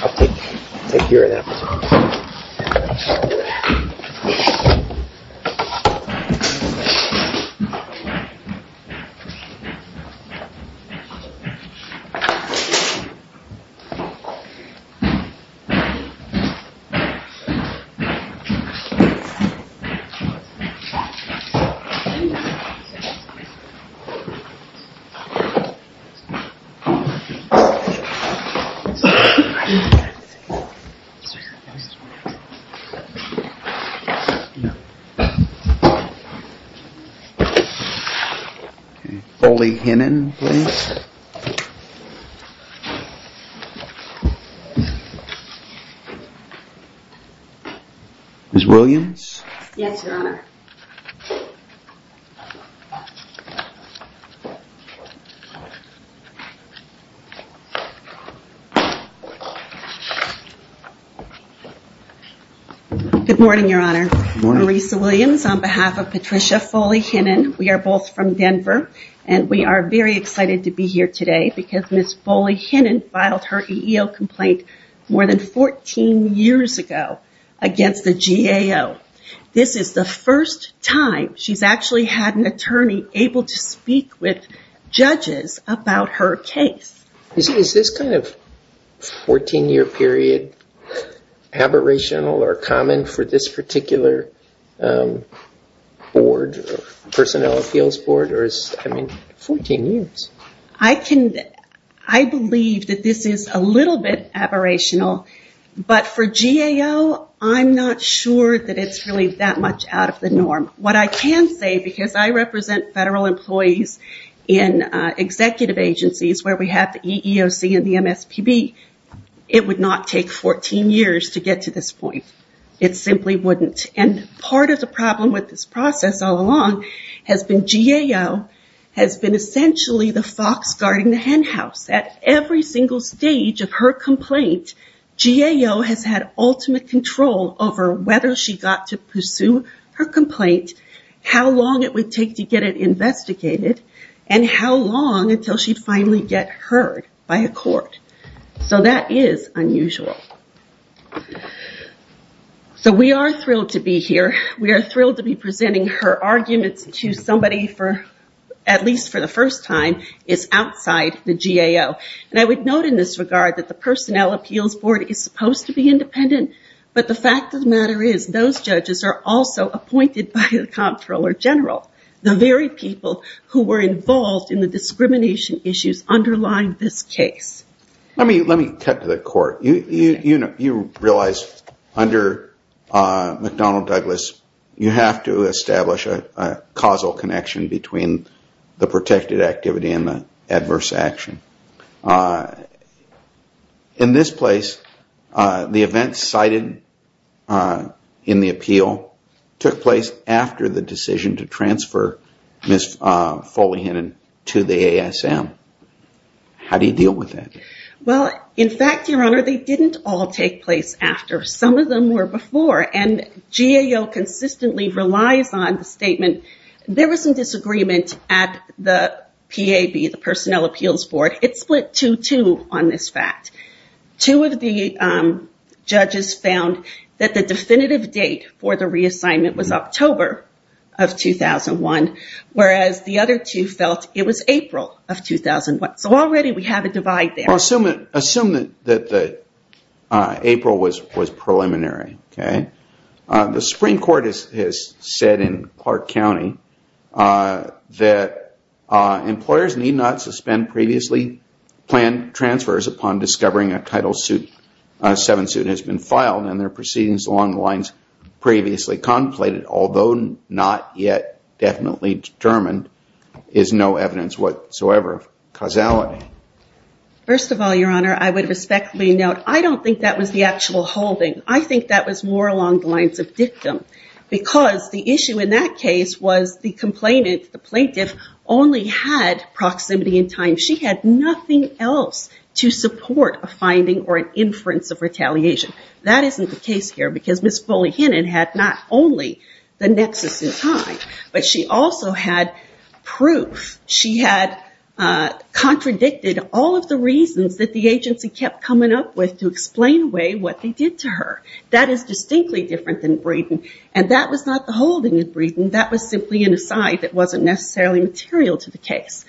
I'll take care of that. Thank you. Thank you. Ms. Williams? Yes, Your Honor. Good morning, Your Honor. Good morning. Marisa Williams on behalf of Patricia Foley-Hinnen. We are both from Denver and we are very excited to be here today because Ms. Foley-Hinnen filed her EEO complaint more than 14 years ago against the GAO. This is the first time she's actually had an attorney able to speak with judges about her case. Is this kind of 14-year period aberrational or common for this particular board or personnel appeals board or is it 14 years? I believe that this is a little bit aberrational but for GAO, I'm not sure that it's really that much out of the norm. What I can say because I represent federal employees in executive agencies where we have the EEOC and the MSPB, it would not take 14 years to get to this point. It simply wouldn't. Part of the problem with this process all along has been GAO has been essentially the fox guarding the hen house. At every single stage of her complaint, GAO has had ultimate control over whether she got to pursue her complaint, how long it would take to get it investigated, and how long until she'd finally get heard by a court. That is unusual. We are thrilled to be here. We are thrilled to be presenting her arguments to somebody for at least for the first time is outside the GAO. I would note in this regard that the personnel appeals board is supposed to be independent but the fact of the matter is those judges are also appointed by the comptroller general. The very people who were involved in the discrimination issues underlying this case. Let me cut to the court. You realize under McDonnell Douglas, you have to establish a causal connection between the protected activity and the adverse action. In this place, the event cited in the appeal took place after the decision to transfer Ms. Foley-Hannon to the ASM. How do you deal with that? In fact, Your Honor, they didn't all take place after. Some of them were before. GAO consistently relies on the statement. There was some disagreement at the PAB, the personnel appeals board. It split two-two on this fact. Two of the judges found that the definitive date for the reassignment was October of 2001 whereas the other two felt it was April of 2001. Already we have a divide there. Assume that April was preliminary. The Supreme Court has said in Clark County that employers need not suspend previously planned transfers upon discovering a Title VII suit has been filed and their proceedings along the lines previously contemplated, although not yet definitely determined, is no evidence whatsoever of causality. First of all, Your Honor, I would respectfully note, I don't think that was the actual holding. I think that was more along the lines of dictum because the issue in that case was the complainant, the plaintiff, only had proximity in time. She had nothing else to support a finding or an inference of retaliation. That isn't the case here because Ms. Foley-Hannon had not only the nexus in time, but she also had proof. She had contradicted all of the reasons that the agency kept coming up with to explain away what they did to her. That is distinctly different than Breeden. That was not the holding of Breeden. That was simply an aside that wasn't necessarily material to the case.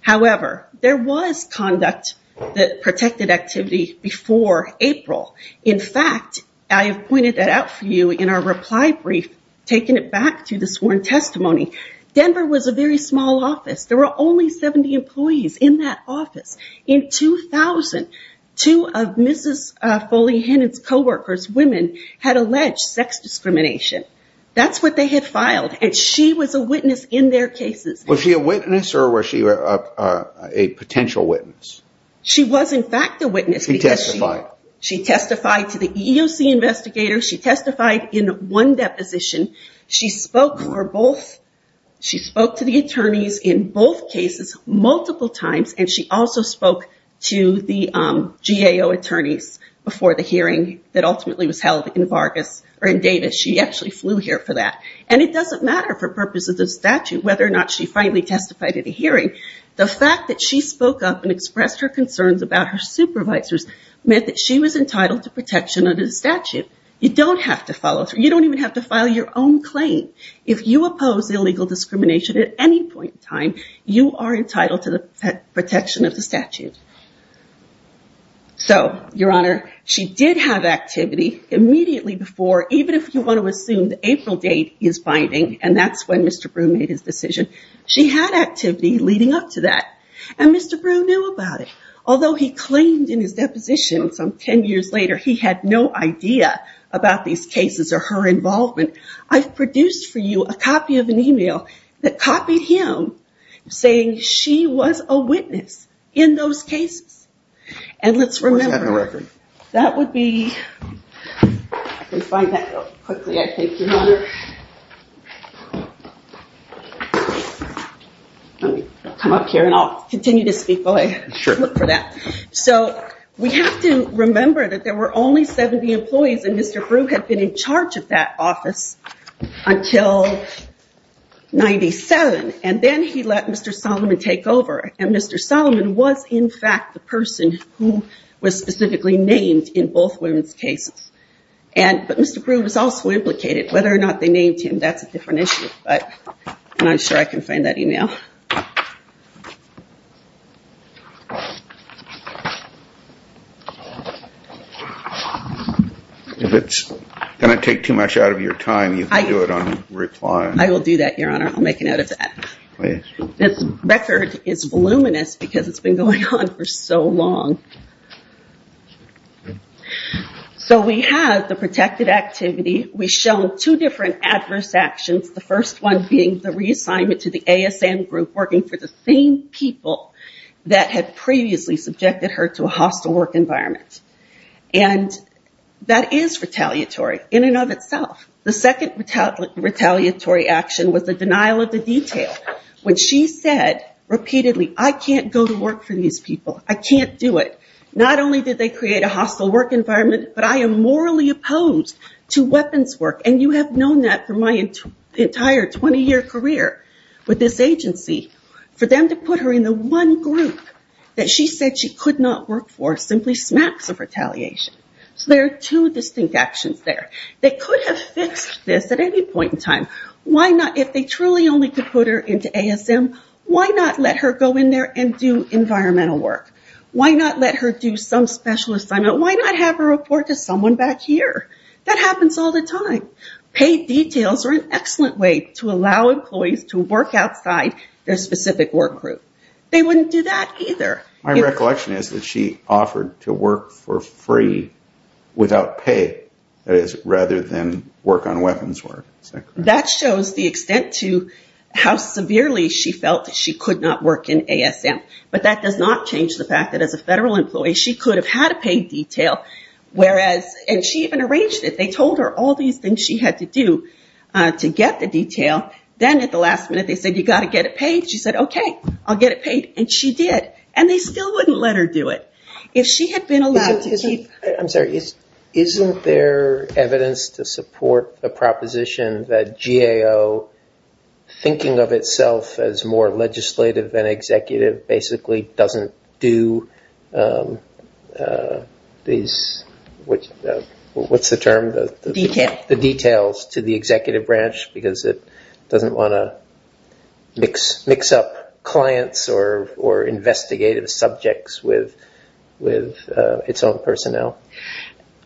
However, there was conduct that protected activity before April. In fact, I have pointed that out for you in our reply brief, taking it back to the sworn testimony. Denver was a very small office. There were only 70 employees in that office. In 2000, two of Mrs. Foley-Hannon's coworkers, women, had alleged sex discrimination. That's what they had filed, and she was a witness in their cases. Was she a witness or was she a potential witness? She was, in fact, a witness. She testified. She testified to the EEOC investigators. She testified in one deposition. She spoke to the attorneys in both cases multiple times, and she also spoke to the GAO attorneys before the hearing that ultimately was held in Davis. She actually flew here for that. It doesn't matter for purposes of statute whether or not she finally testified at a hearing. The fact that she spoke up and expressed her concerns about her supervisors meant that she was entitled to protection under the statute. You don't have to follow through. You don't even have to file your own claim. If you oppose illegal discrimination at any point in time, you are entitled to the protection of the statute. So, Your Honor, she did have activity immediately before, even if you want to assume the April date is binding, and that's when Mr. Brew made his decision. She had activity leading up to that, and Mr. Brew knew about it. Although he claimed in his deposition some 10 years later he had no idea about these cases or her involvement, I've produced for you a copy of an email that copied him saying she was a witness in those cases. And let's remember that would be, let me find that real quickly, I think, Your Honor. I'll come up here and I'll continue to speak. So we have to remember that there were only 70 employees and Mr. Brew had been in charge of that office until 97, and then he let Mr. Solomon take over. And Mr. Solomon was, in fact, the person who was specifically named in both women's cases. But Mr. Brew was also implicated. Whether or not they named him, that's a different issue. I'm not sure I can find that email. If it's going to take too much out of your time, you can do it on reply. I will do that, Your Honor. I'll make a note of that. This record is voluminous because it's been going on for so long. So we have the protected activity. We've shown two different adverse actions, the first one being the reassignment to the ASN group working for the same people that had previously subjected her to a hostile work environment. And that is retaliatory in and of itself. The second retaliatory action was the denial of the detail. When she said repeatedly, I can't go to work for these people. I can't do it. Not only did they create a hostile work environment, but I am morally opposed to weapons work. And you have known that for my entire 20-year career with this agency. For them to put her in the one group that she said she could not work for simply smacks of retaliation. So there are two distinct actions there. They could have fixed this at any point in time. If they truly only could put her into ASN, why not let her go in there and do environmental work? Why not let her do some special assignment? Why not have her report to someone back here? That happens all the time. Paid details are an excellent way to allow employees to work outside their specific work group. They wouldn't do that either. My recollection is that she offered to work for free without pay, rather than work on weapons work. That shows the extent to how severely she felt that she could not work in ASN. But that does not change the fact that as a federal employee, she could have had a paid detail. And she even arranged it. They told her all these things she had to do to get the detail. Then at the last minute they said, you've got to get it paid. She said, okay, I'll get it paid. And she did. And they still wouldn't let her do it. If she had been allowed to keep... Isn't there evidence to support the proposition that GAO, thinking of itself as more legislative than executive, basically doesn't do these, what's the term? Details. The details to the executive branch because it doesn't want to mix up clients or investigative subjects with its own personnel.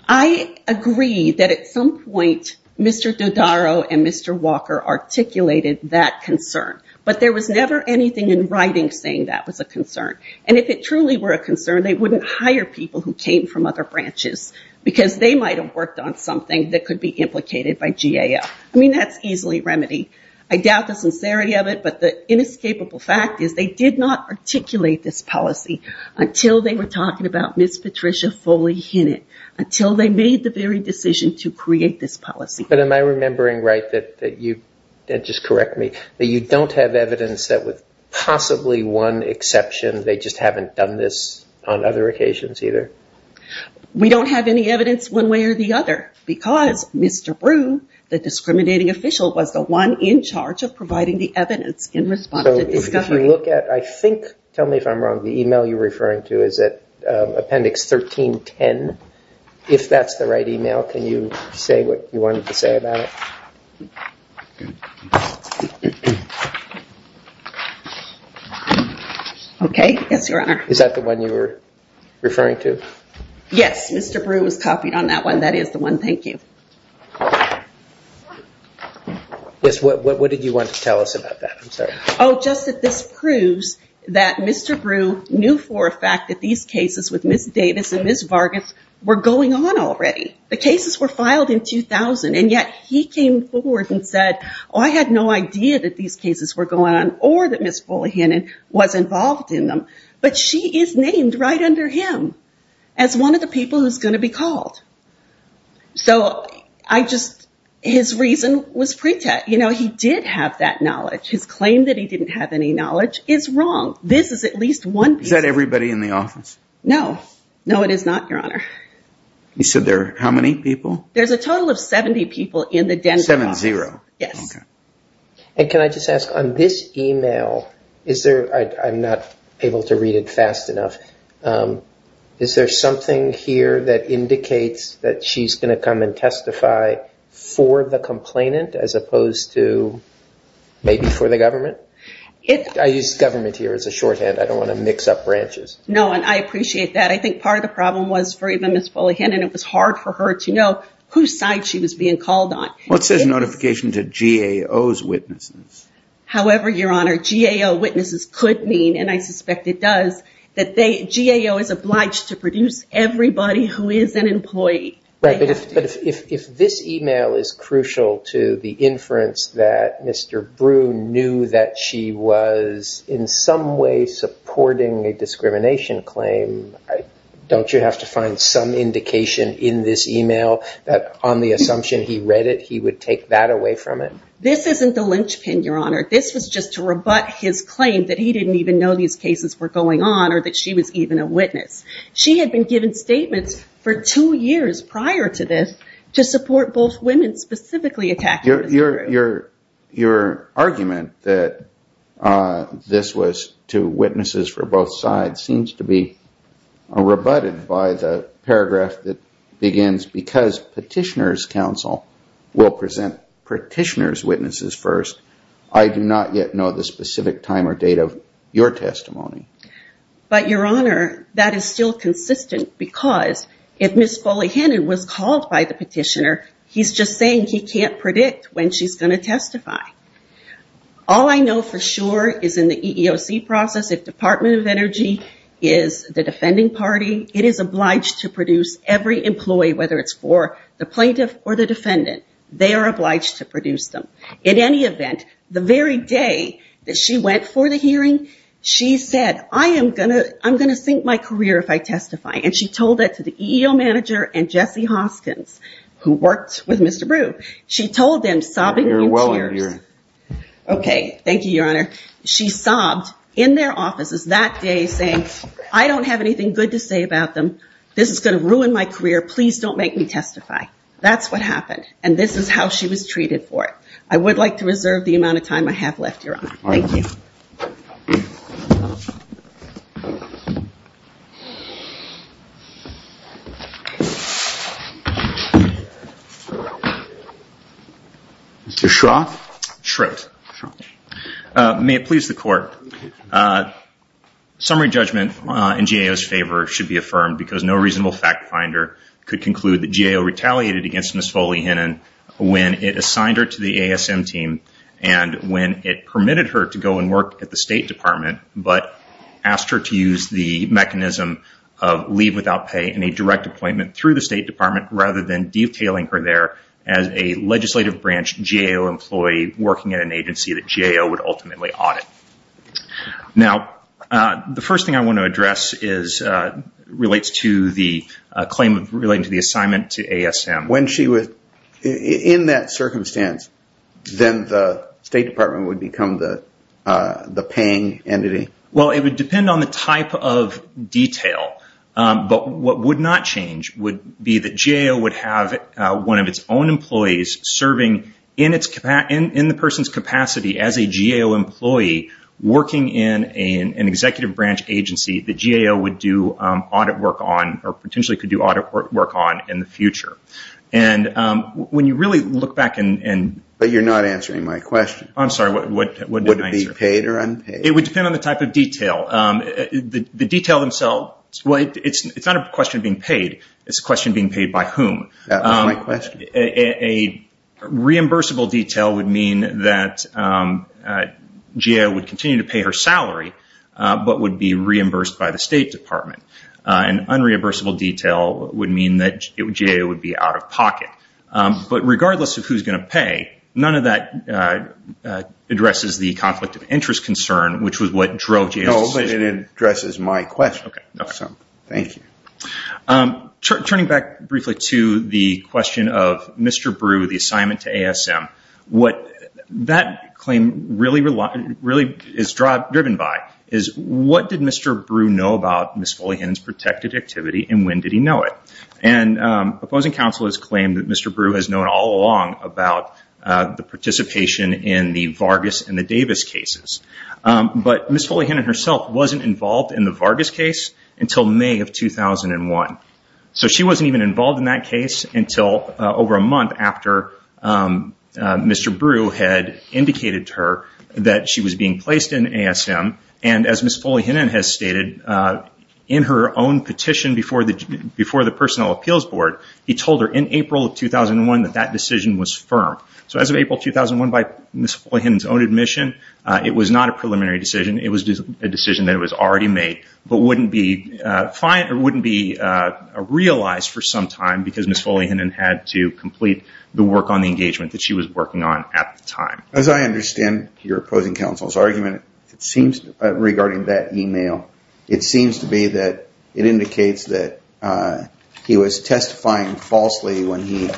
I agree that at some point Mr. Dodaro and Mr. Walker articulated that concern. But there was never anything in writing saying that was a concern. And if it truly were a concern, they wouldn't hire people who came from other branches because they might have worked on something that could be implicated by GAO. I mean, that's easily remedied. I doubt the sincerity of it, but the inescapable fact is they did not articulate this policy until they were talking about Ms. Patricia Foley Hinnant, until they made the very decision to create this policy. But am I remembering right that you, just correct me, that you don't have evidence that with possibly one exception they just haven't done this on other occasions either? We don't have any evidence one way or the other because Mr. Brew, the discriminating official, was the one in charge of providing the evidence in response to discovery. So if you look at, I think, tell me if I'm wrong, the email you're referring to is at appendix 1310. If that's the right email, can you say what you wanted to say about it? Okay. Yes, Your Honor. Is that the one you were referring to? Yes. Mr. Brew was copied on that one. That is the one. Thank you. Yes. What did you want to tell us about that? I'm sorry. Oh, just that this proves that Mr. Brew knew for a fact that these cases with Ms. Davis and Ms. Vargas were going on already. The cases were filed in 2000, and yet he came forward and said, oh, I had no idea that these cases were going on or that Ms. Bullohannon was involved in them. But she is named right under him as one of the people who's going to be called. So I just, his reason was pretext. You know, he did have that knowledge. His claim that he didn't have any knowledge is wrong. This is at least one. Is that everybody in the office? No, no, it is not, Your Honor. You said there, how many people? There's a total of 70 people in the den. Seven, zero. Yes. And can I just ask on this email? Is there, I'm not able to read it fast enough. Is there something here that indicates that she's going to come and testify for the complainant as opposed to maybe for the government? I use government here as a shorthand. I don't want to mix up branches. No, and I appreciate that. I think part of the problem was for even as fully hidden, it was hard for her to know whose side she was being called on. What says notification to GAO's witnesses? However, Your Honor, GAO witnesses could mean, and I suspect it does that they, GAO is obliged to produce everybody who is an employee. Right. But if, if, if this email is crucial to the inference that Mr. Broom knew that she was in some way supporting a discrimination claim, don't you have to find some indication in this email that on the assumption he read it, he would take that away from it? This isn't the linchpin, Your Honor. This was just to rebut his claim that he didn't even know these cases were going on or that she was even a witness. She had been given statements for two years prior to this to support both women specifically attacked. Your, your, your argument that this was to witnesses for both sides seems to be, uh, rebutted by the paragraph that begins because petitioners council will present petitioners witnesses first. I do not yet know the specific time or date of your testimony. But Your Honor, that is still consistent because if Ms. Foley-Hannon was called by the petitioner, he's just saying he can't predict when she's going to testify. All I know for sure is in the EEOC process, if Department of Energy is the defending party, it is obliged to produce every employee, whether it's for the plaintiff or the defendant, they are obliged to produce them. In any event, the very day that she went for the hearing, she said, I am going to, I'm going to sink my career if I testify. And she told that to the EEO manager and Jesse Hoskins who worked with Mr. She told them sobbing. Okay. Thank you, Your Honor. She sobbed in their offices that day saying, I don't have anything good to say about them. This is going to ruin my career. Please don't make me testify. That's what happened. And this is how she was treated for it. I would like to reserve the amount of time I have left, Your Honor. Thank you. Mr. Schroth. Schroth. May it please the court. Summary judgment in GAO's favor should be affirmed because no reasonable fact finder could conclude that GAO retaliated against Ms. Foley-Hinnon when it assigned her to the ASM team and when it permitted her to go and work at the State Department, but asked her to use the mechanism of leave without pay in a direct appointment through the State Department rather than detailing her there as a legislative branch GAO employee working at an agency that GAO would ultimately audit. Now, the first thing I want to address relates to the assignment to ASM. When she was in that circumstance, then the State Department would become the paying entity? Well, it would depend on the type of detail, but what would not change would be that GAO would have one of its own employees serving in the person's capacity as a GAO employee working in an executive branch agency that GAO would do audit work on or potentially could do audit work on in the future. And when you really look back and? But you're not answering my question. I'm sorry, what did I answer? Would it be paid or unpaid? It would depend on the type of detail. The detail themselves, well, it's not a question of being paid. It's a question of being paid by whom? That was my question. A reimbursable detail would mean that GAO would continue to pay her salary, but would be reimbursed by the State Department. An unreimbursable detail would mean that GAO would be out of pocket. But regardless of who's going to pay, none of that addresses the conflict of interest concern, which was what drove GAO's decision. No, but it addresses my question. Okay. Thank you. Turning back briefly to the question of Mr. Brew, the assignment to ASM, what that claim really is driven by is, what did Mr. Brew know about Ms. Fullyhannon's protected activity and when did he know it? And opposing counsel has claimed that Mr. Brew has known all along about the participation in the Vargas and the Davis cases. But Ms. Fullyhannon herself wasn't involved in the Vargas case until May of 2001. So she wasn't even involved in that case until over a month after Mr. Brew had indicated to her that she was being placed in ASM. And as Ms. Fullyhannon has stated, in her own petition before the Personnel Appeals Board, he told her in April of 2001 that that decision was firm. So as of April 2001, by Ms. Fullyhannon's own admission, it was not a preliminary decision. It was a decision that was already made, but wouldn't be realized for some time because Ms. Fullyhannon had to complete the work on the engagement that she was working on at the time. As I understand your opposing counsel's argument regarding that email, it seems to me that it indicates that he was testifying falsely when he,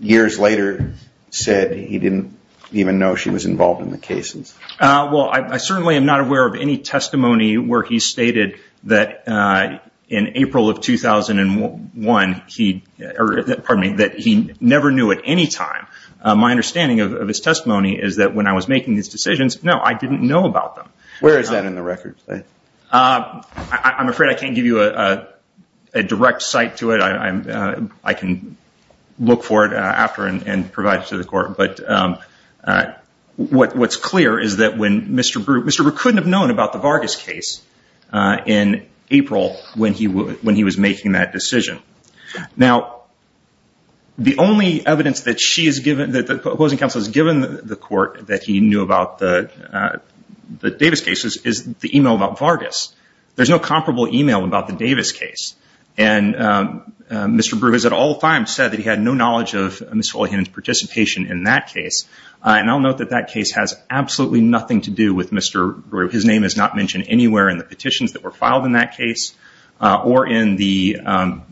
years later, said he didn't even know she was involved in the cases. Well, I certainly am not aware of any testimony where he stated that in April of 2001, he never knew at any time. My understanding of his testimony is that when I was making these decisions, no, I didn't know about them. Where is that in the record? I'm afraid I can't give you a direct cite to it. I can look for it after and provide it to the court. But what's clear is that when Mr. Brute, Mr. Brute couldn't have known about the Vargas case in April when he was making that decision. Now, the only evidence that she has given, that the opposing counsel has given the court that he knew about the Davis cases, is the email about Vargas. There's no comparable email about the Davis case. And Mr. Brute has, at all times, said that he had no knowledge of Ms. Foley-Hennan's participation in that case. And I'll note that that case has absolutely nothing to do with Mr. Brute. His name is not mentioned anywhere in the petitions that were filed in that case or in the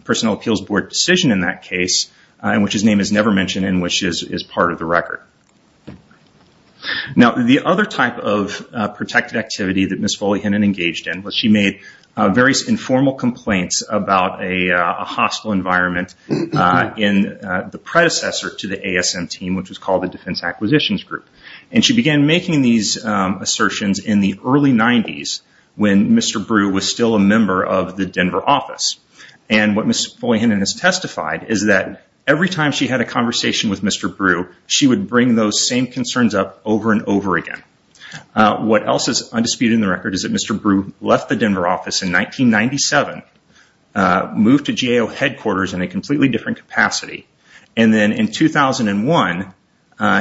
personnel appeals board decision in that case, in which his name is never mentioned and which is part of the record. Now, the other type of protected activity that Ms. Foley-Hennan engaged in was she made various informal complaints about a hostile environment in the predecessor to the ASM team, which was called the Defense Acquisitions Group. And she began making these assertions in the early 90s when Mr. Brute was still a member of the Denver office. And what Ms. Foley-Hennan has testified is that every time she had a conversation with Mr. Brute, she would bring those same concerns up over and over again. What else is undisputed in the record is that Mr. Brute left the Denver office in 1997, moved to GAO headquarters in a completely different capacity, and then in 2001,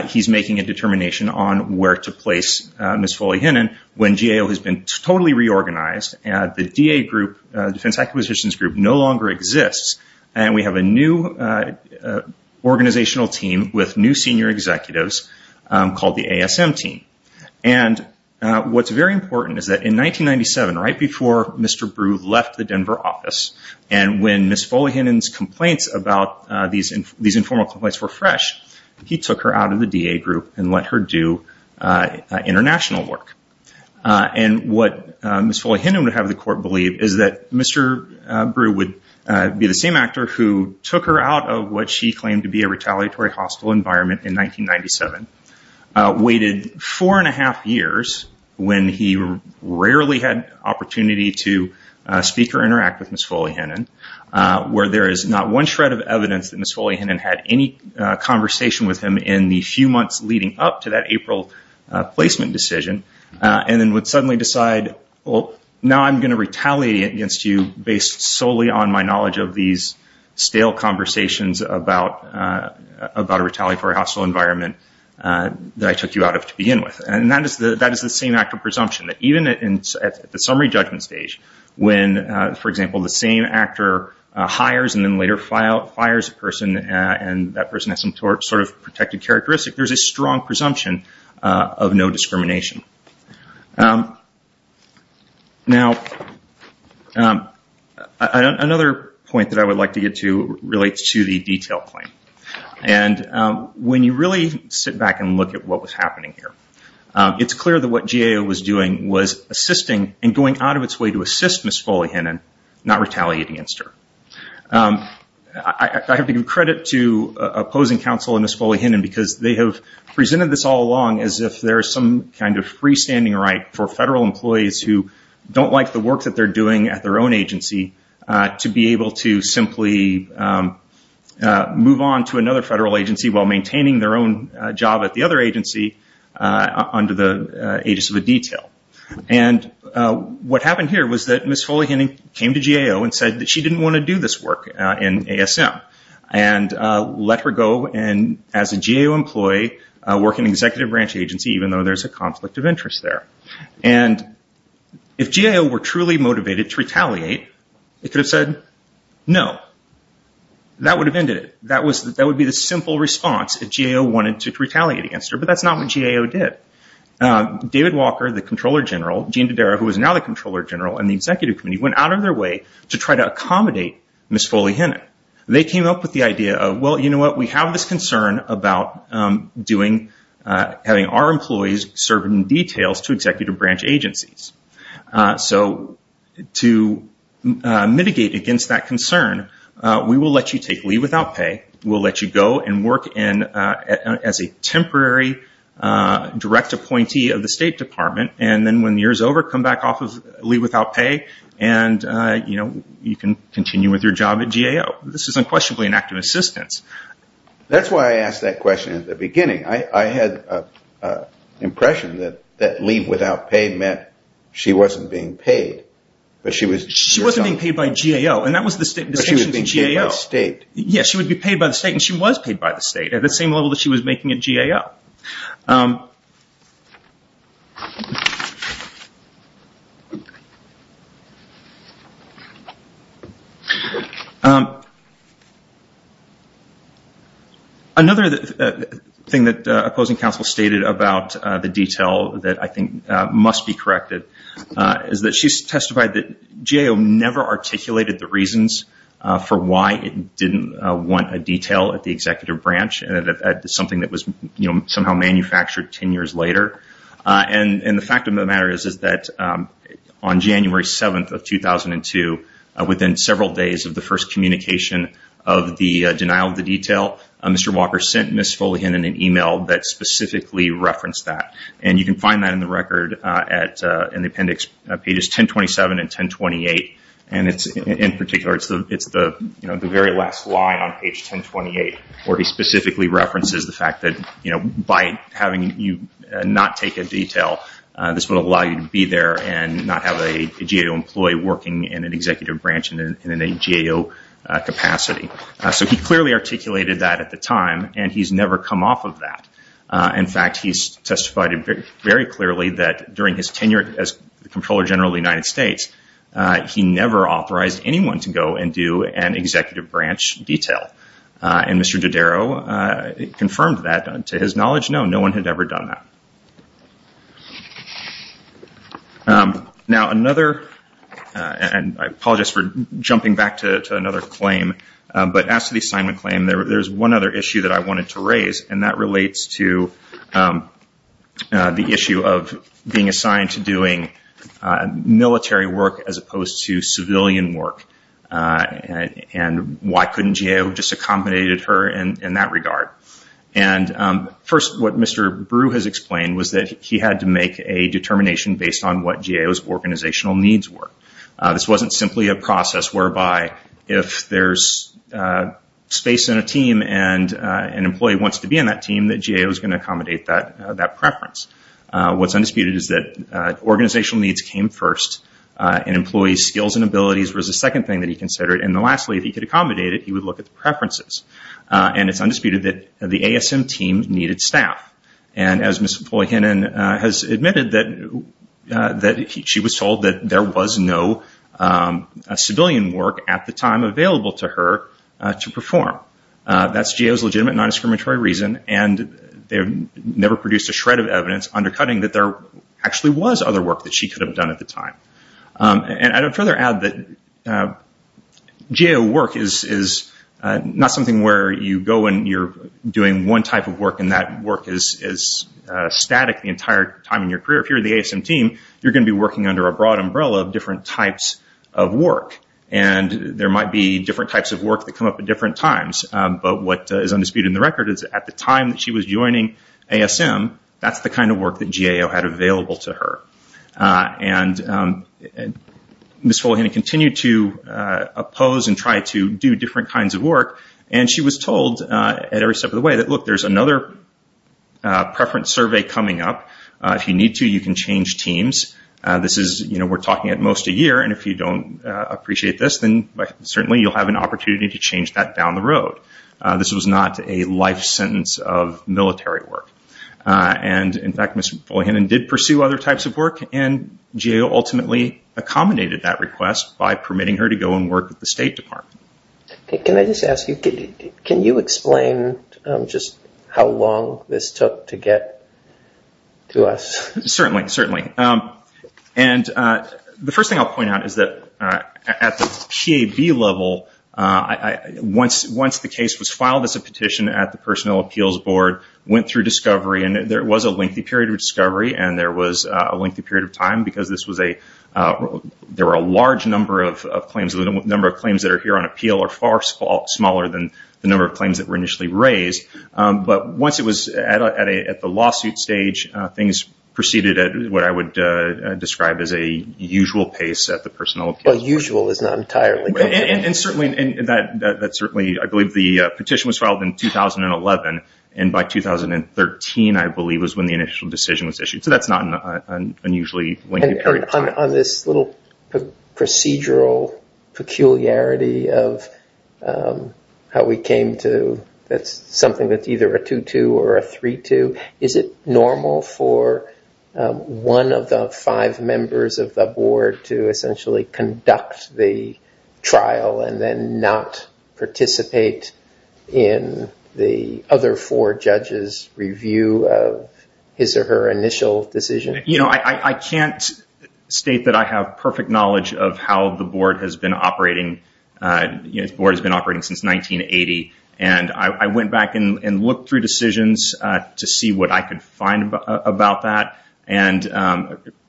he's making a determination on where to place Ms. Foley-Hennan when GAO has been totally reorganized and the DA group, Defense Acquisitions Group, no longer exists. And we have a new organizational team with new senior executives called the ASM team. And what's very important is that in 1997, right before Mr. Brute left the Denver office and when Ms. Foley-Hennan's complaints about these informal complaints were fresh, he took her out of the DA group and let her do international work. And what Ms. Foley-Hennan would have the court believe is that Mr. Brute would be the same actor who took her out of what she claimed to be a retaliatory hostile environment in 1997, waited four and a half years when he rarely had opportunity to speak or interact with Ms. Foley-Hennan, where there is not one shred of evidence that Ms. Foley-Hennan had any conversation with him in the few months leading up to that April placement decision, and then would suddenly decide, well, now I'm going to retaliate against you based solely on my knowledge of these stale conversations about a retaliatory hostile environment that I took you out of to begin with. And that is the same actor presumption, that even at the summary judgment stage, when, for example, the same actor hires and then later fires a person and that person has some sort of protected characteristic, there's a strong presumption of no discrimination. Now, another point that I would like to get to relates to the detail claim. And when you really sit back and look at what was happening here, it's clear that what GAO was doing was assisting and going out of its way to assist Ms. Foley-Hennan, not retaliate against her. I have to give credit to opposing counsel in Ms. Foley-Hennan because they have presented this all along as if there is some kind of freestanding right for federal employees who don't like the work that they're doing at their own agency to be able to simply move on to another federal agency while maintaining their own job at the other agency under the aegis of a detail. And what happened here was that Ms. Foley-Hennan came to GAO and said that she didn't want to do this work in ASM and let her go and, as a GAO employee, work in an executive branch agency, even though there's a conflict of interest there. And if GAO were truly motivated to retaliate, it could have said no. That would have ended it. That would be the simple response if GAO wanted to retaliate against her, but that's not what GAO did. David Walker, the Comptroller General, Gene Dodaro, who is now the Comptroller General, and the Executive Committee went out of their way to try to accommodate Ms. Foley-Hennan. They came up with the idea of, well, you know what? We have this concern about having our employees serve in details to executive branch agencies. So to mitigate against that concern, we will let you take leave without pay. We'll let you go and work as a temporary direct appointee of the State Department, and then when the year is over, come back off of leave without pay and you can continue with your job at GAO. This is unquestionably an act of assistance. That's why I asked that question at the beginning. I had an impression that leave without pay meant she wasn't being paid. She wasn't being paid by GAO, and that was the distinction from GAO. But she was being paid by the State. At the same level that she was making at GAO. Another thing that opposing counsel stated about the detail that I think must be corrected is that she testified that she never articulated the reasons for why it didn't want a detail at the executive branch, something that was somehow manufactured 10 years later. And the fact of the matter is that on January 7th of 2002, within several days of the first communication of the denial of the detail, Mr. Walker sent Ms. Foley-Hennan an email that specifically referenced that. And you can find that in the record in the appendix pages 1027 and 1028. And in particular, it's the very last line on page 1028, where he specifically references the fact that by having you not take a detail, this would allow you to be there and not have a GAO employee working in an executive branch in a GAO capacity. So he clearly articulated that at the time, and he's never come off of that. In fact, he testified very clearly that during his tenure as Comptroller General of the United States, he never authorized anyone to go and do an executive branch detail. And Mr. Dodaro confirmed that to his knowledge. No, no one had ever done that. Now, another, and I apologize for jumping back to another claim, but as to the assignment claim, there's one other issue that I wanted to raise, and that relates to the issue of being assigned to doing military work as opposed to civilian work. And why couldn't GAO just accommodate her in that regard? And first, what Mr. Brew has explained was that he had to make a determination based on what GAO's organizational needs were. This wasn't simply a process whereby if there's space in a team and an employee wants to be in that team, that GAO is going to accommodate that preference. What's undisputed is that organizational needs came first, and employees' skills and abilities was the second thing that he considered. And lastly, if he could accommodate it, he would look at the preferences. And it's undisputed that the ASM team needed staff. And as Ms. Foy-Hannon has admitted, that she was told that there was no civilian work at the time available to her to perform. That's GAO's legitimate non-discriminatory reason, and they never produced a shred of evidence undercutting that there actually was other work that she could have done at the time. And I'd further add that GAO work is not something where you go when you're doing one type of work and that work is static the entire time in your career. If you're in the ASM team, you're going to be working under a broad umbrella of different types of work. And there might be different types of work that come up at different times. But what is undisputed in the record is that at the time that she was joining ASM, that's the kind of work that GAO had available to her. And Ms. Foy-Hannon continued to oppose and try to do different kinds of work. And she was told at every step of the way that, look, there's another preference survey coming up. If you need to, you can change teams. This is, you know, we're talking at most a year, and if you don't appreciate this, then certainly you'll have an opportunity to change that down the road. This was not a life sentence of military work. And, in fact, Ms. Foy-Hannon did pursue other types of work, and GAO ultimately accommodated that request by permitting her to go and work at the State Department. Can I just ask you, can you explain just how long this took to get to us? Certainly, certainly. And the first thing I'll point out is that at the PAB level, once the case was filed as a petition at the Personnel Appeals Board, went through discovery, and there was a lengthy period of discovery and there was a lengthy period of time because there were a large number of claims. The number of claims that are here on appeal are far smaller than the number of claims that were initially raised. But once it was at the lawsuit stage, things proceeded at what I would describe as a usual pace at the Personnel Appeals Board. Well, usual is not entirely correct. And certainly, I believe the petition was filed in 2011, and by 2013, I believe, was when the initial decision was issued. So that's not an unusually lengthy period of time. On this little procedural peculiarity of how we came to something that's either a 2-2 or a 3-2, is it normal for one of the five members of the board to essentially conduct the trial and then not participate in the other four judges' review of his or her initial decision? You know, I can't state that I have perfect knowledge of how the board has been operating since 1980. And I went back and looked through decisions to see what I could find about that. And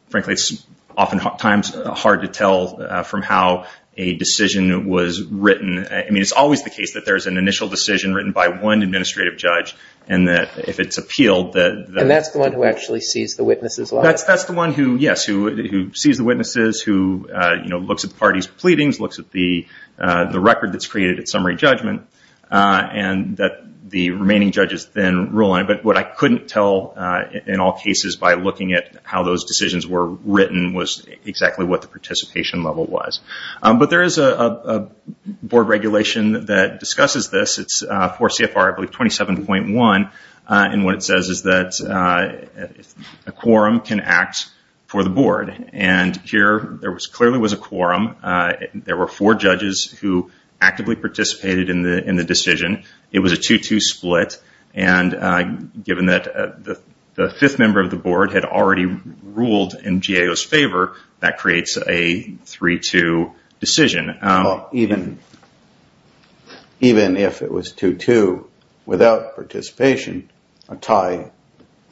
frankly, it's oftentimes hard to tell from how a decision was written. I mean, it's always the case that there's an initial decision written by one administrative judge, and that if it's appealed, that... And that's the one who actually sees the witnesses live? That's the one who, yes, who sees the witnesses, who, you know, looks at the party's pleadings, looks at the record that's created at summary judgment, and that the remaining judges then rule on it. But what I couldn't tell in all cases by looking at how those decisions were written was exactly what the participation level was. But there is a board regulation that discusses this. It's 4 CFR 27.1, and what it says is that a quorum can act for the board. And here there clearly was a quorum. There were four judges who actively participated in the decision. It was a 2-2 split, and given that the fifth member of the board had already ruled in GAO's favor, that creates a 3-2 decision. Even if it was 2-2 without participation, a tie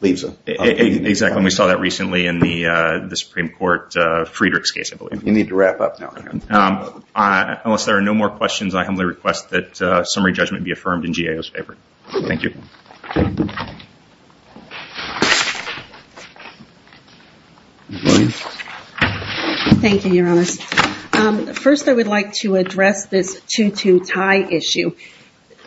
leaves a... Exactly, and we saw that recently in the Supreme Court Friedrich's case, I believe. You need to wrap up now. Unless there are no more questions, I humbly request that summary judgment be affirmed in GAO's favor. Thank you. Thank you, Your Honors. First, I would like to address this 2-2 tie issue.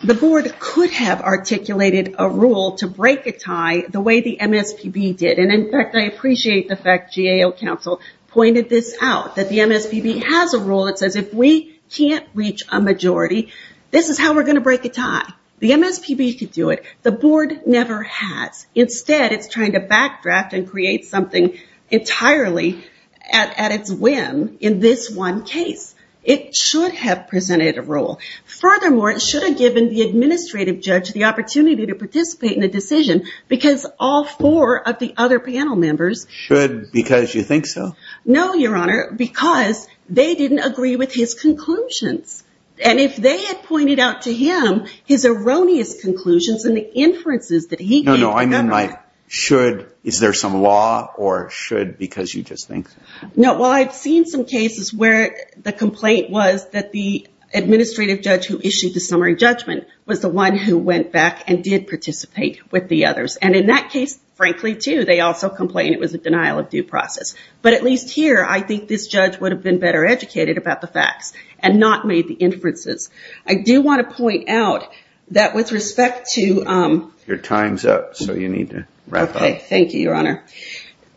The board could have articulated a rule to break a tie the way the MSPB did, and in fact, I appreciate the fact GAO counsel pointed this out, that the MSPB has a rule that says if we can't reach a majority, this is how we're going to break a tie. The MSPB could do it. The board never has. Instead, it's trying to backdraft and create something entirely at its whim in this one case. It should have presented a rule. Furthermore, it should have given the administrative judge the opportunity to participate in the decision because all four of the other panel members... Should because you think so? No, Your Honor, because they didn't agree with his conclusions. And if they had pointed out to him his erroneous conclusions and the inferences that he gave... No, no, I meant by should, is there some law or should because you just think so? No, well, I've seen some cases where the complaint was that the administrative judge who issued the summary judgment was the one who went back and did participate with the others. And in that case, frankly, too, they also complained it was a denial of due process. But at least here, I think this judge would have been better educated about the facts and not made the inferences. I do want to point out that with respect to... Your time's up, so you need to wrap up. Okay, thank you, Your Honor.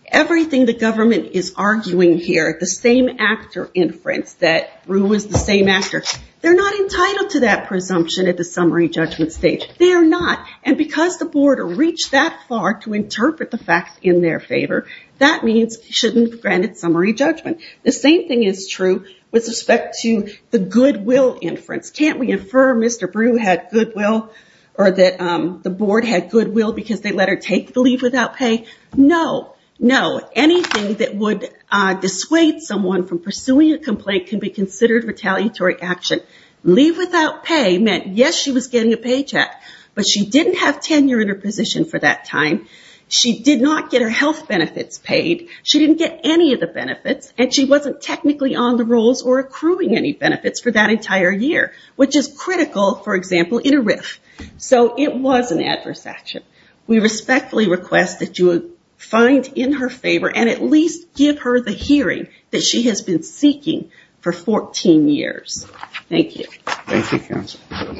Everything the government is arguing here, the same actor inference, that Rue was the same actor, they're not entitled to that presumption at the summary judgment stage. They're not. And because the board reached that far to interpret the facts in their favor, that means he shouldn't have granted summary judgment. The same thing is true with respect to the goodwill inference. Can't we infer Mr. Brew had goodwill or that the board had goodwill because they let her take the leave without pay? No, no. Anything that would dissuade someone from pursuing a complaint can be considered retaliatory action. Leave without pay meant, yes, she was getting a paycheck, but she didn't have tenure in her position for that time, she did not get her health benefits paid, she didn't get any of the benefits, and she wasn't technically on the rolls or accruing any benefits for that entire year, which is critical, for example, in a RIF. So it was an adverse action. We respectfully request that you find in her favor and at least give her the hearing that she has been seeking for 14 years. Thank you. Thank you, counsel.